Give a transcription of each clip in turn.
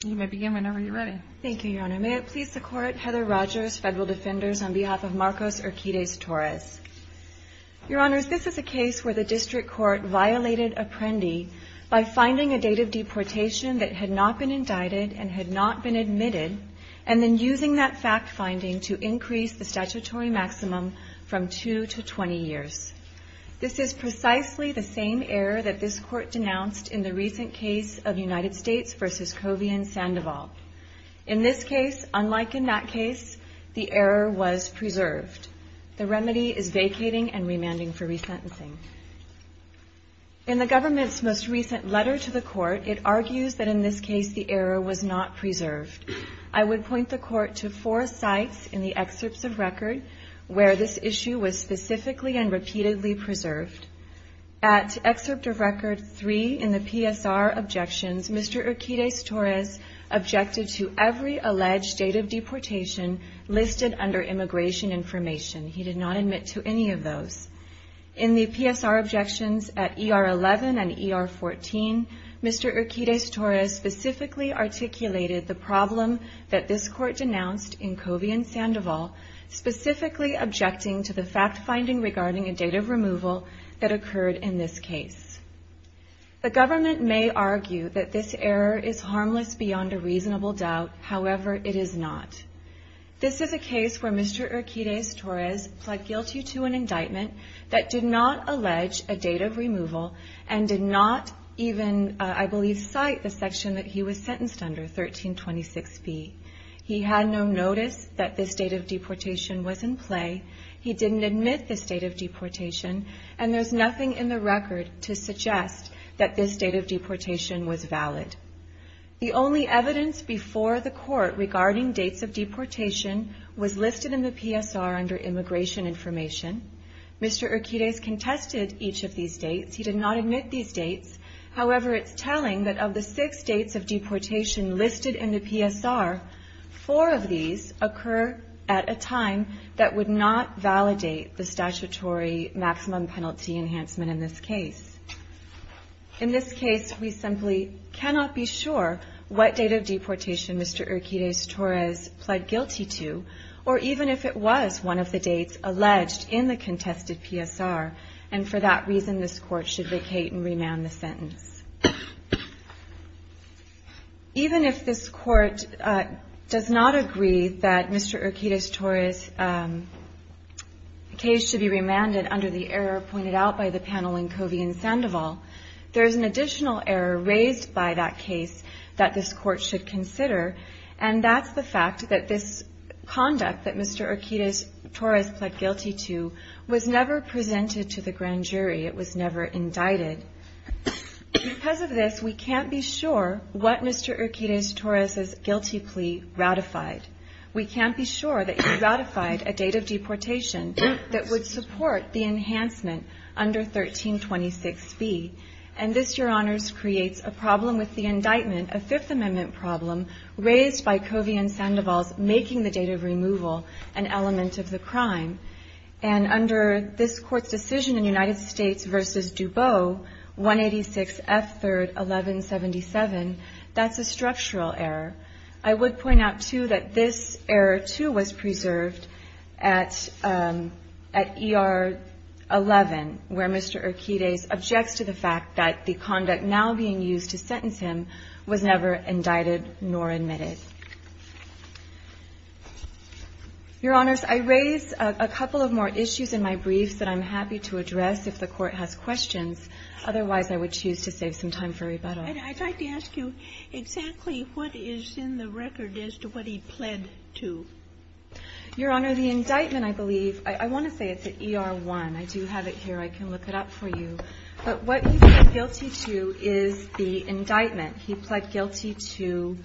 This is a case where the district court violated Apprendi by finding a date of deportation that had not been indicted and had not been admitted and then using that fact finding to increase the statutory maximum from 2 to 20 years. This is precisely the same error that this court denounced in the recent case of United States v. Covey and Sands. In this case, unlike in that case, the error was preserved. The remedy is vacating and remanding for resentencing. In the government's most recent letter to the court, it argues that in this case the error was not preserved. I would point the court to four sites in the excerpts of record where this issue was specifically and repeatedly preserved. At excerpt of record 3 in the PSR Objections, Mr. Urquides-Torres objected to every alleged date of deportation listed under immigration information. He did not admit to any of those. In the PSR Objections at ER 11 and ER 14, Mr. Urquides-Torres specifically articulated the problem that this court denounced in Covey and Sandoval, specifically objecting to the fact finding regarding a date of removal that occurred in this case. The government may argue that this error is harmless beyond a reasonable doubt. However, it is not. This is a case where Mr. Urquides-Torres pled guilty to an indictment that did not allege a date of removal and did not even, I believe, cite the section that he was sentenced under, 1326B. He had no notice that this date of deportation was in play. He didn't admit this date of deportation, and there's nothing in the record to suggest that this date of deportation was valid. The only evidence before the court regarding dates of deportation was listed in the PSR under immigration information. Mr. Urquides-Torres contested each of these dates. He did not admit these dates. However, it's telling that of the six dates of deportation listed in the PSR, four of these occur at a time that would not validate the statutory maximum penalty enhancement in this case. In this case, we simply cannot be sure what date of deportation Mr. Urquides-Torres pled guilty to, or even if it was one of the dates alleged in the contested PSR, and for that reason, this court should vacate and remand the sentence. Even if this court does not agree that Mr. Urquides-Torres' case should be remanded under the error pointed out by the panel in Covey and Sandoval, there's an additional error raised by that case that this court should consider, and that's the fact that this conduct that Mr. Urquides-Torres pled guilty to was never presented to the grand jury. It was never indicted. Because of this, we can't be sure what Mr. Urquides-Torres' guilty plea ratified. We can't be sure that he ratified a date of deportation that would support the enhancement under 1326B. And this, Your Honors, creates a problem with the indictment, a Fifth Amendment problem, raised by Covey and Sandoval's making the date of removal an element of the crime. And under this court's decision in United States v. Dubot, 186F3-1177, that's a structural error. I would point out, too, that this error, too, was preserved at ER 11 where Mr. Urquides-Torres objects to the fact that the conduct now being used to sentence him was never indicted nor admitted. Your Honors, I raise a couple of more issues in my briefs that I'm happy to address if the Court has questions. Otherwise, I would choose to save some time for rebuttal. And I'd like to ask you exactly what is in the record as to what he pled to. Your Honor, the indictment, I believe, I want to say it's at ER 1. I do have it here. I can look it up for you. But what he pled guilty to is the indictment. He pled guilty to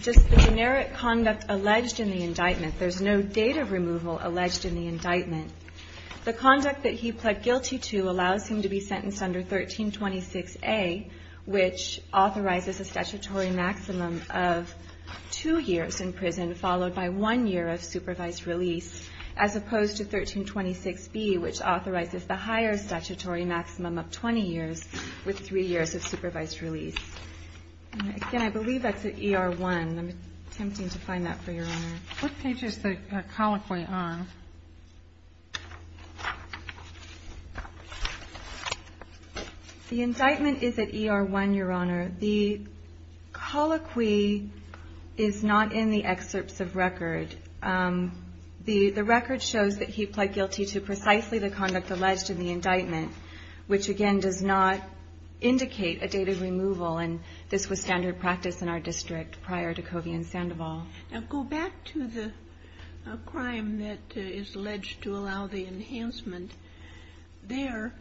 just the generic conduct alleged in the indictment. There's no date of removal alleged in the indictment. The conduct that he pled guilty to allows him to be sentenced under 1326A, which authorizes a statutory maximum of two years in prison, followed by one year of supervised release, as opposed to 1326B, which authorizes the higher statutory maximum of 20 years with three years of supervised release. Again, I believe that's at ER 1. I'm attempting to find that for Your Honor. What page is the colloquy on? The indictment is at ER 1, Your Honor. The colloquy is not in the excerpts of record. The record shows that he pled guilty to precisely the conduct alleged in the indictment, which again does not indicate a date of removal. And this was standard practice in our district prior to Covey and Sandoval. Now, go back to the crime that is alleged to allow the enhancement. There,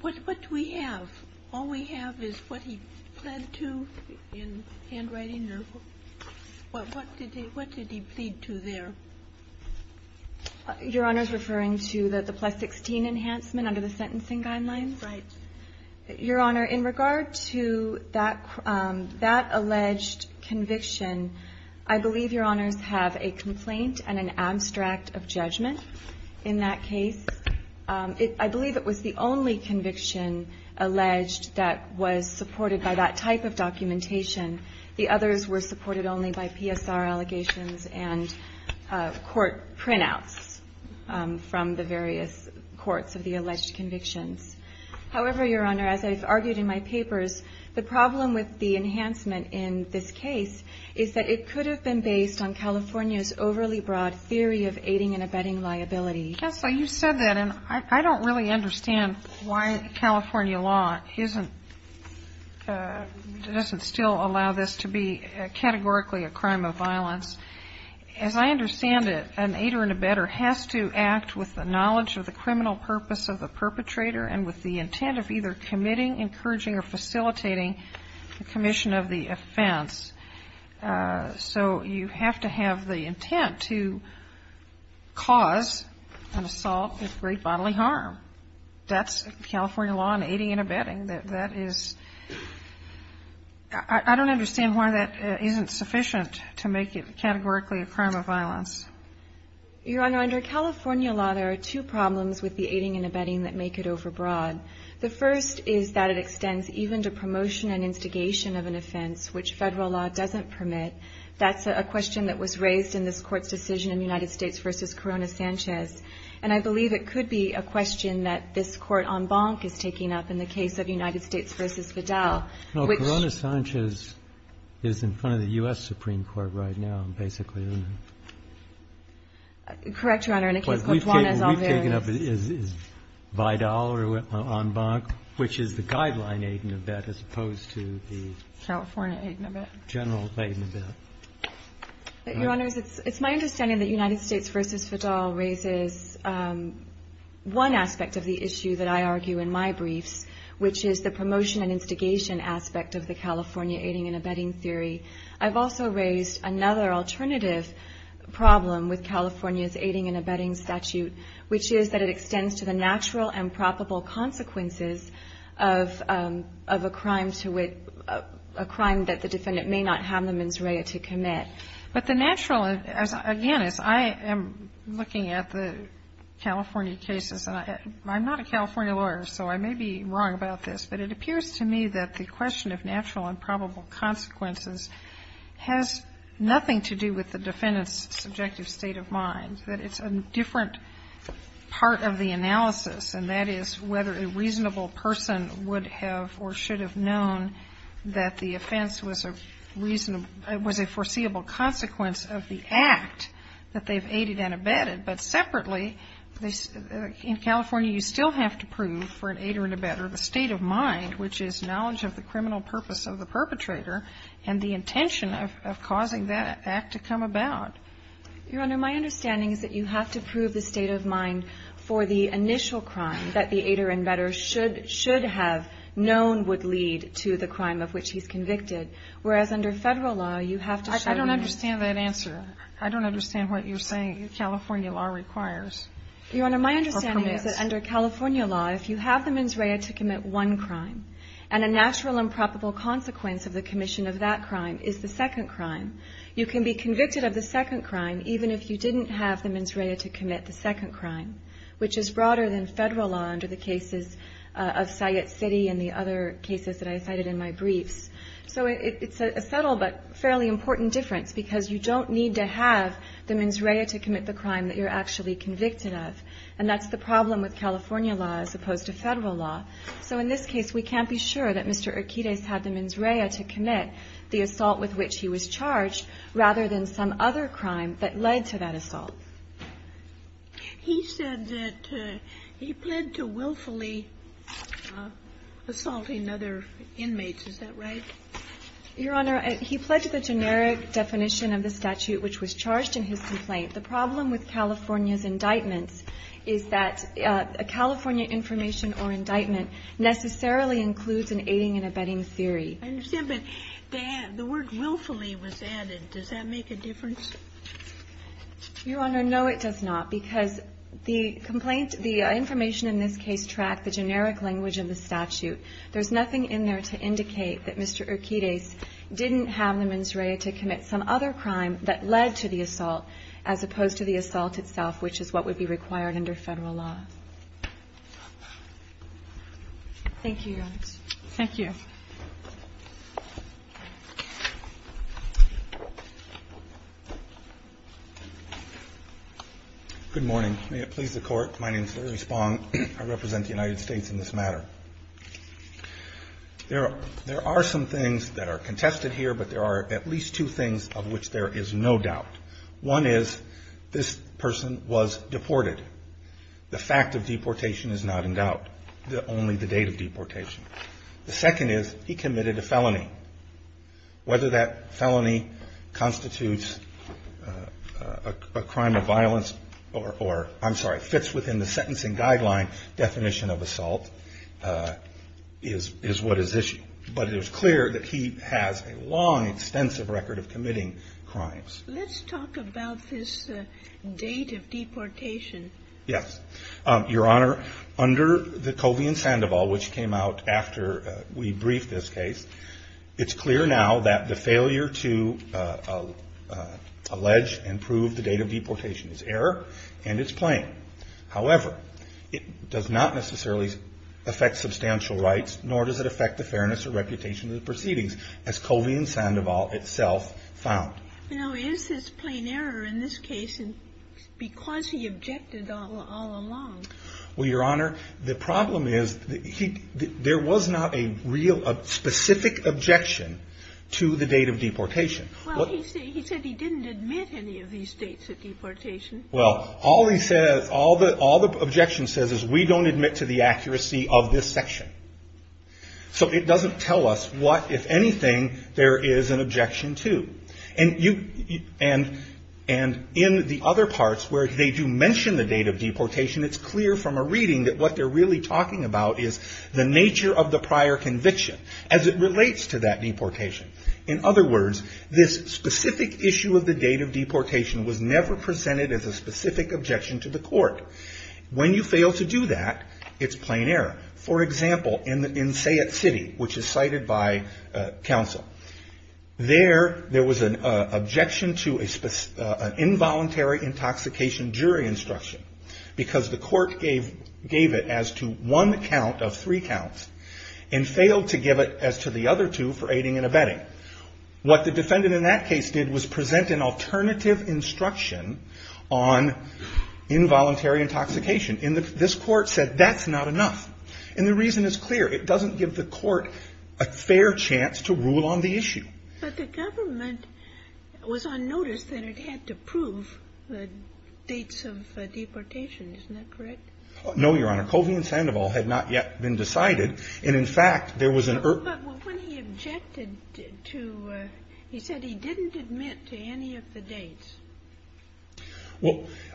what do we have? All we have is what he pled to in handwriting, or what did he plead to there? Your Honor is referring to the plus-16 enhancement under the sentencing guidelines? Right. Your Honor, in regard to that alleged conviction, I believe Your Honors have a complaint and an abstract of judgment in that case. I believe it was the only conviction alleged that was supported by that type of documentation. The others were supported only by PSR allegations and court printouts from the various courts of the alleged convictions. However, Your Honor, as I've argued in my papers, the problem with the enhancement in this case is that it could have been based on California's overly broad theory of aiding and abetting liability. Counsel, you said that, and I don't really understand why California law doesn't still allow this to be categorically a crime of violence. As I understand it, an aider and abetter has to act with the knowledge of the criminal purpose of the perpetrator and with the intent of either committing, encouraging, or facilitating the commission of the offense. So you have to have the intent to cause an assault with great bodily harm. That's California law in aiding and abetting. I don't understand why that isn't sufficient to make it categorically a crime of violence. Your Honor, under California law, there are two problems with the aiding and abetting that make it overbroad. The first is that it extends even to promotion and instigation of an offense, which federal law doesn't permit. That's a question that was raised in this Court's decision in United States v. Corona Sanchez. And I believe it could be a question that this Court en banc is taking up in the case of United States v. Vidal. Well, Corona Sanchez is in front of the U.S. Supreme Court right now, basically, isn't it? Correct, Your Honor. But we've taken up it as Vidal en banc, which is the guideline aid and abet as opposed to the general aid and abet. Your Honor, it's my understanding that United States v. Vidal raises one aspect of the issue that I argue in my briefs, which is the promotion and instigation aspect of the California aiding and abetting theory. I've also raised another alternative problem with California's aiding and abetting statute, which is that it extends to the natural and probable consequences of a crime that the defendant may not have the mens rea to commit. But the natural, again, as I am looking at the California cases, and I'm not a California lawyer, so I may be wrong about this, but it appears to me that the question of natural and probable consequences has nothing to do with the defendant's subjective state of mind, that it's a different part of the analysis, and that is whether a reasonable person would have or should have known that the offense was a reasonable, was a foreseeable consequence of the act that they've aided and abetted. But separately, in California, you still have to prove for an aider and abetter the state of mind, which is knowledge of the criminal purpose of the perpetrator and the intention of causing that act to come about. Your Honor, my understanding is that you have to prove the state of mind for the initial crime that the aider and abetter should have known would lead to the crime of which he's convicted, whereas under Federal law, you have to show that. I don't understand that answer. I don't understand what you're saying California law requires. Your Honor, my understanding is that under California law, if you have the mens rea to commit one crime, and a natural and probable consequence of the commission of that crime is the second crime, you can be convicted of the second crime even if you didn't have the mens rea to commit the second crime, which is broader than Federal law under the cases of Syett City and the other cases that I cited in my briefs. So it's a subtle but fairly important difference, because you don't need to have the mens rea to commit the crime that you're actually convicted of, and that's the problem with California law as opposed to Federal law. So in this case, we can't be sure that Mr. Urquidez had the mens rea to commit the assault with which he was charged rather than some other crime that led to that assault. He said that he pled to willfully assaulting other inmates. Is that right? Your Honor, he pled to the generic definition of the statute which was charged in his complaint. The problem with California's indictments is that a California information or indictment necessarily includes an aiding and abetting theory. I understand, but the word willfully was added. Does that make a difference? Your Honor, no it does not, because the information in this case tracked the generic language of the statute. There's nothing in there to indicate that Mr. Urquidez didn't have the mens rea to commit some other crime that led to the assault as a result of the Federal law. Thank you, Your Honor. Good morning. May it please the Court, my name is Larry Spong. I represent the United States in this matter. There are some things that are contested here, but there are at least two things of which there is no doubt. One is this person was deported. The fact of deportation is not in doubt. Only the date of deportation. The second is he committed a felony. Whether that felony constitutes a crime of violence or, I'm sorry, fits within the sentencing guideline definition of assault is what is considered crimes. Let's talk about this date of deportation. Yes, Your Honor. Under the Covey and Sandoval, which came out after we briefed this case, it's clear now that the failure to allege and prove the date of deportation is error and it's plain. However, it does not necessarily affect substantial rights, nor does it affect the fairness or reputation of the proceedings, as Covey and Sandoval itself found. Now is this plain error in this case because he objected all along? Well, Your Honor, the problem is there was not a real specific objection to the date of deportation. Well, he said he didn't admit any of these dates of deportation. Well, all the objection says is we don't admit to the accuracy of this section. So it doesn't tell us what, if anything, there is an objection to. And in the other parts where they do mention the date of deportation, it's clear from a reading that what they're really talking about is the nature of the prior conviction as it relates to that deportation. In other words, this specific issue of the date of deportation was never presented as a specific objection to the court. When you fail to do that, it's plain error. For example, in Sayet City, which is cited by counsel, there was an objection to an involuntary intoxication jury instruction because the court gave it as to one count of three counts and failed to give it as to the other two for aiding and abetting. What the defendant in that case did was present an alternative instruction on involuntary intoxication. This court said that's not enough. And the reason is clear. It doesn't give the court a fair chance to rule on the issue. But the government was on notice that the court had to prove the dates of deportation. Isn't that correct? No, Your Honor. Covey and Sandoval had not yet been decided. And in fact, there was an... But when he objected to, he said he didn't admit to any of the dates.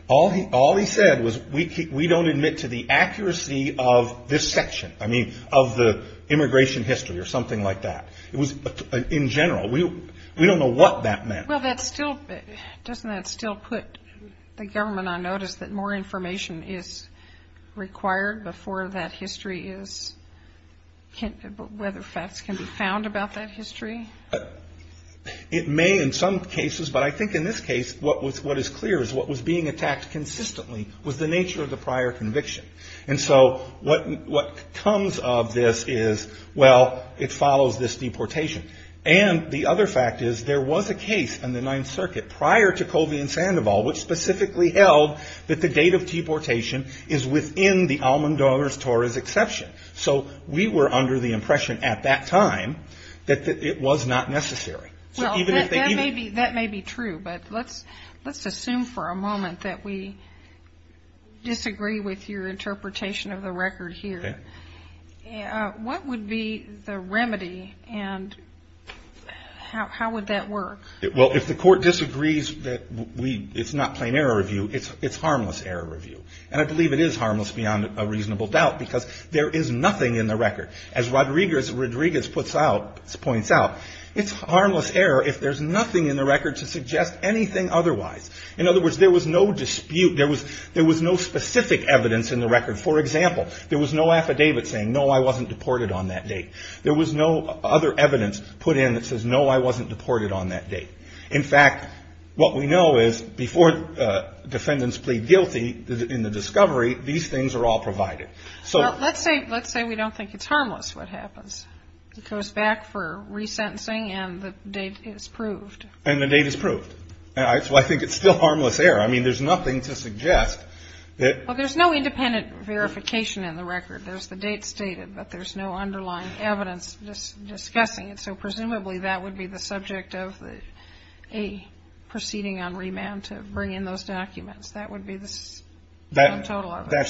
All he said was we don't admit to the accuracy of this section. I mean, of the Doesn't that still put the government on notice that more information is required before that history is, whether facts can be found about that history? It may in some cases. But I think in this case, what is clear is what was being attacked consistently was the nature of the prior conviction. And so what comes of this is, well, it follows this deportation. And the other fact is there was a case in the Ninth Circuit prior to Covey and Sandoval which specifically held that the date of deportation is within the Almendorz-Torres exception. So we were under the impression at that time that it was not necessary. Well, that may be true. But let's assume for a moment that we What would be the remedy and how would that work? Well, if the court disagrees that it's not plain error review, it's harmless error review. And I believe it is harmless beyond a reasonable doubt because there is nothing in the record. As Rodriguez points out, it's harmless error if there's nothing in the record to suggest anything otherwise. In other words, there was no dispute. There was no specific evidence in the record. For example, there was no affidavit saying, no, I wasn't deported on that date. There was no other evidence put in that says, no, I wasn't deported on that date. In fact, what we know is before defendants plead guilty in the discovery, these things are all provided. Let's say we don't think it's harmless what happens. It goes back for resentencing and the date is proved. And the date is proved. So I think it's still harmless error. I mean, there's nothing to suggest. Well, there's no independent verification in the record. There's the date stated, but there's no underlying evidence discussing it. So presumably that would be the subject of a proceeding on remand to bring in those documents. That would be the That's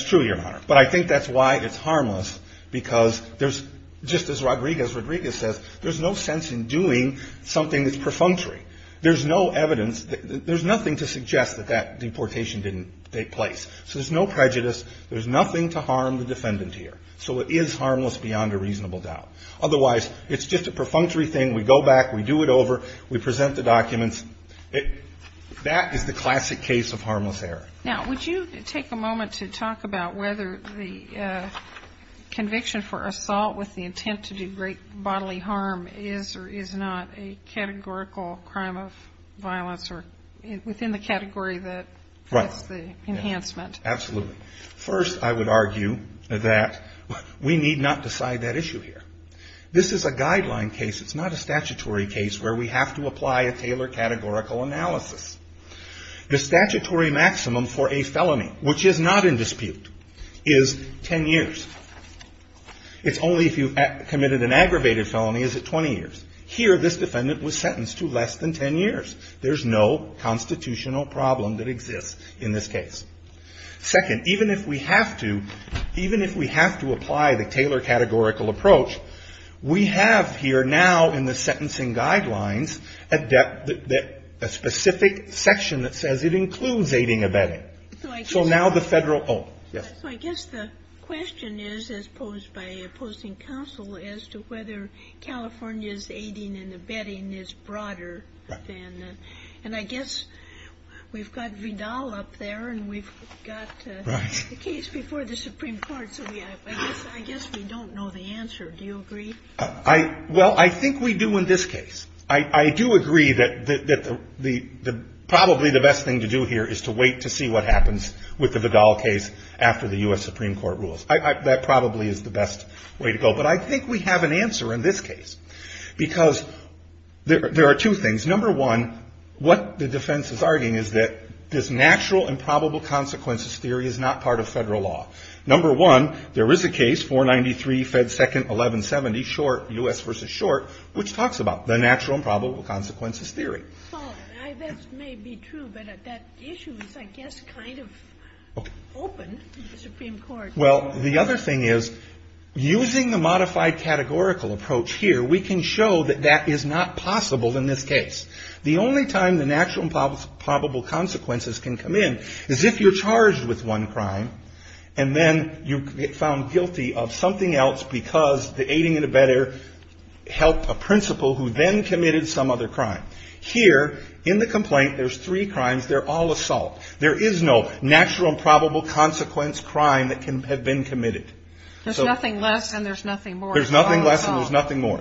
true, Your Honor. But I think that's why it's harmless, because there's just as Rodriguez says, there's no sense in doing something that's perfunctory. There's no evidence. There's nothing to suggest that that deportation didn't take place. So there's no prejudice. There's nothing to harm the defendant here. So it is harmless beyond a reasonable doubt. Otherwise, it's just a perfunctory thing. We go back. We do it over. We present the documents. That is the classic case of harmless error. Now, would you take a moment to talk about whether the conviction for assault with the intent to do great bodily harm is or is not a categorical crime of violence or within the category that that's the enhancement? Absolutely. First, I would argue that we need not decide that issue here. This is a guideline case. It's not a statutory case where we have to apply a Taylor categorical analysis. The statutory maximum for a felony, which is not in dispute, is 10 years. It's only if you've committed an aggravated felony, is it 20 years. Here, this defendant was sentenced to less than 10 years. There's no constitutional problem that exists in this case. Second, even if we have to apply the Taylor categorical approach, we have here now in the sentencing guidelines a specific section that says it includes aiding and abetting. I guess the question is, as posed by opposing counsel, as to whether California's abetting is broader. I guess we've got Vidal up there. We've got the case before the Supreme Court. I guess we don't know the answer. Do you agree? Well, I think we do in this case. I do agree that probably the best thing to do here is to wait to see what happens with the Vidal case after the U.S. Supreme Court rules. That probably is the best way to go. But I think we have an answer in this case. There are two things. Number one, what the defense is arguing is that this natural and probable consequences theory is not part of federal law. Number one, there is a case, 493 Fed 2nd 1170, U.S. v. Short, which talks about the natural and probable consequences theory. Well, that may be true, but that issue is, I guess, kind of open to the Supreme Court. Well, the other thing is, using the modified categorical approach here, we can show that that is not possible in this case. The only time the natural and probable consequences can come in is if you're charged with one crime and then you get found guilty of something else because the aiding and abetting helped a principal who then committed some other crime. Here, in the complaint, there's three crimes. They're all assault. There is no natural and probable consequence crime that can have been committed. There's nothing less and there's nothing more. There's nothing less and there's nothing more.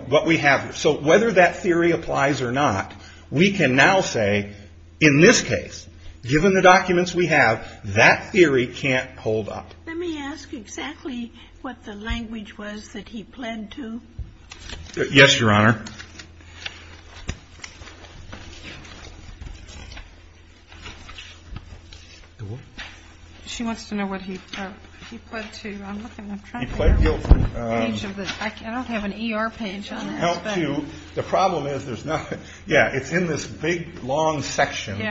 So whether that theory applies or not, we can now say, in this case, given the documents we have, that theory can't hold up. Let me ask exactly what the language was that he pled to. Yes, Your Honor. She wants to know what he pled to. I'm looking. He pled guilty. I don't have an ER page on this. The problem is, yeah, it's in this big, long section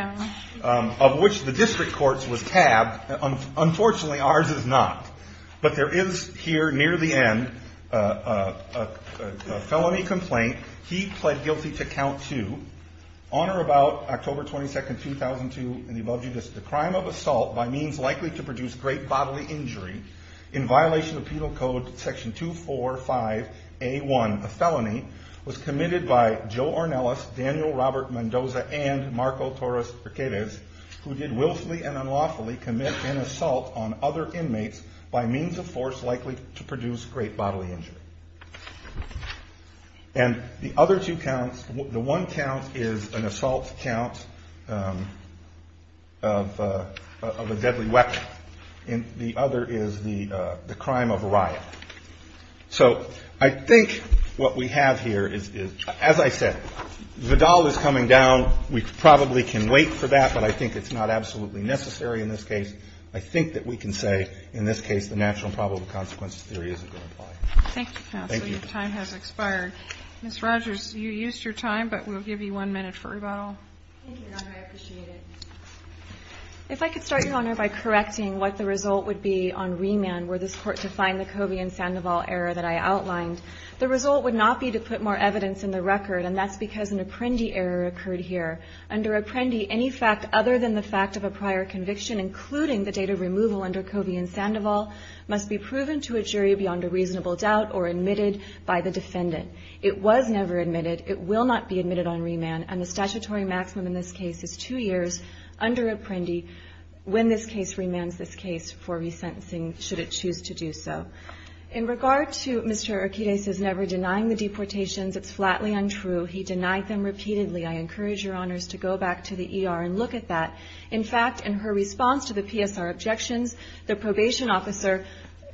of which the district courts was tabbed. Unfortunately, ours is not. But there is here, near the end, a felony complaint. He pled guilty to count two. On or about October 22, 2002, in the above judice, the crime of assault, by means likely to produce great bodily injury, in violation of penal code section 245A1, a felony, was committed by Joe Ornelas, Daniel Robert Mendoza, and Marco Torres who did willfully and unlawfully commit an assault on other inmates by means of force likely to produce great bodily injury. And the other two counts, the one count is an assault count of a deadly weapon. And the other is the crime of riot. So I think what we have here is, as I said, Vidal is coming down. We probably can wait for that. But I think it's not absolutely necessary in this case. I think that we can say, in this case, the natural and probable consequences theory isn't going to apply. Thank you, counsel. Your time has expired. Ms. Rogers, you used your time, but we'll give you one minute for rebuttal. Thank you, Your Honor. I appreciate it. If I could start, Your Honor, by correcting what the result would be on remand were this court to find the Covey and Sandoval error that I outlined. The result would not be to put more evidence in the record, and that's because an apprendee error occurred here. Under apprendee, any fact other than the fact of a prior conviction, including the date of removal under Covey and Sandoval, must be proven to a jury beyond a reasonable doubt or admitted by the defendant. It was never admitted. It will not be admitted on remand. And the statutory maximum in this case is two years under apprendee when this case remands this case for resentencing, should it choose to do so. In regard to Mr. Urquidez's never denying the deportations, it's flatly untrue. He denied them repeatedly. I encourage Your Honors to go back to the ER and look at that. In fact, in her response to the PSR objections, the probation officer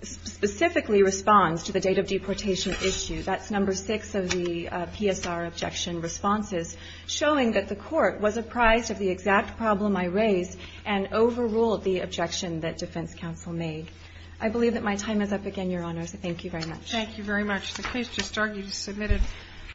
specifically responds to the date of deportation issue. That's number six of the PSR objection responses, showing that the court was apprised of the exact problem I raised and overruled the objection that defense counsel made. I believe that my time is up again, Your Honors. Thank you very much.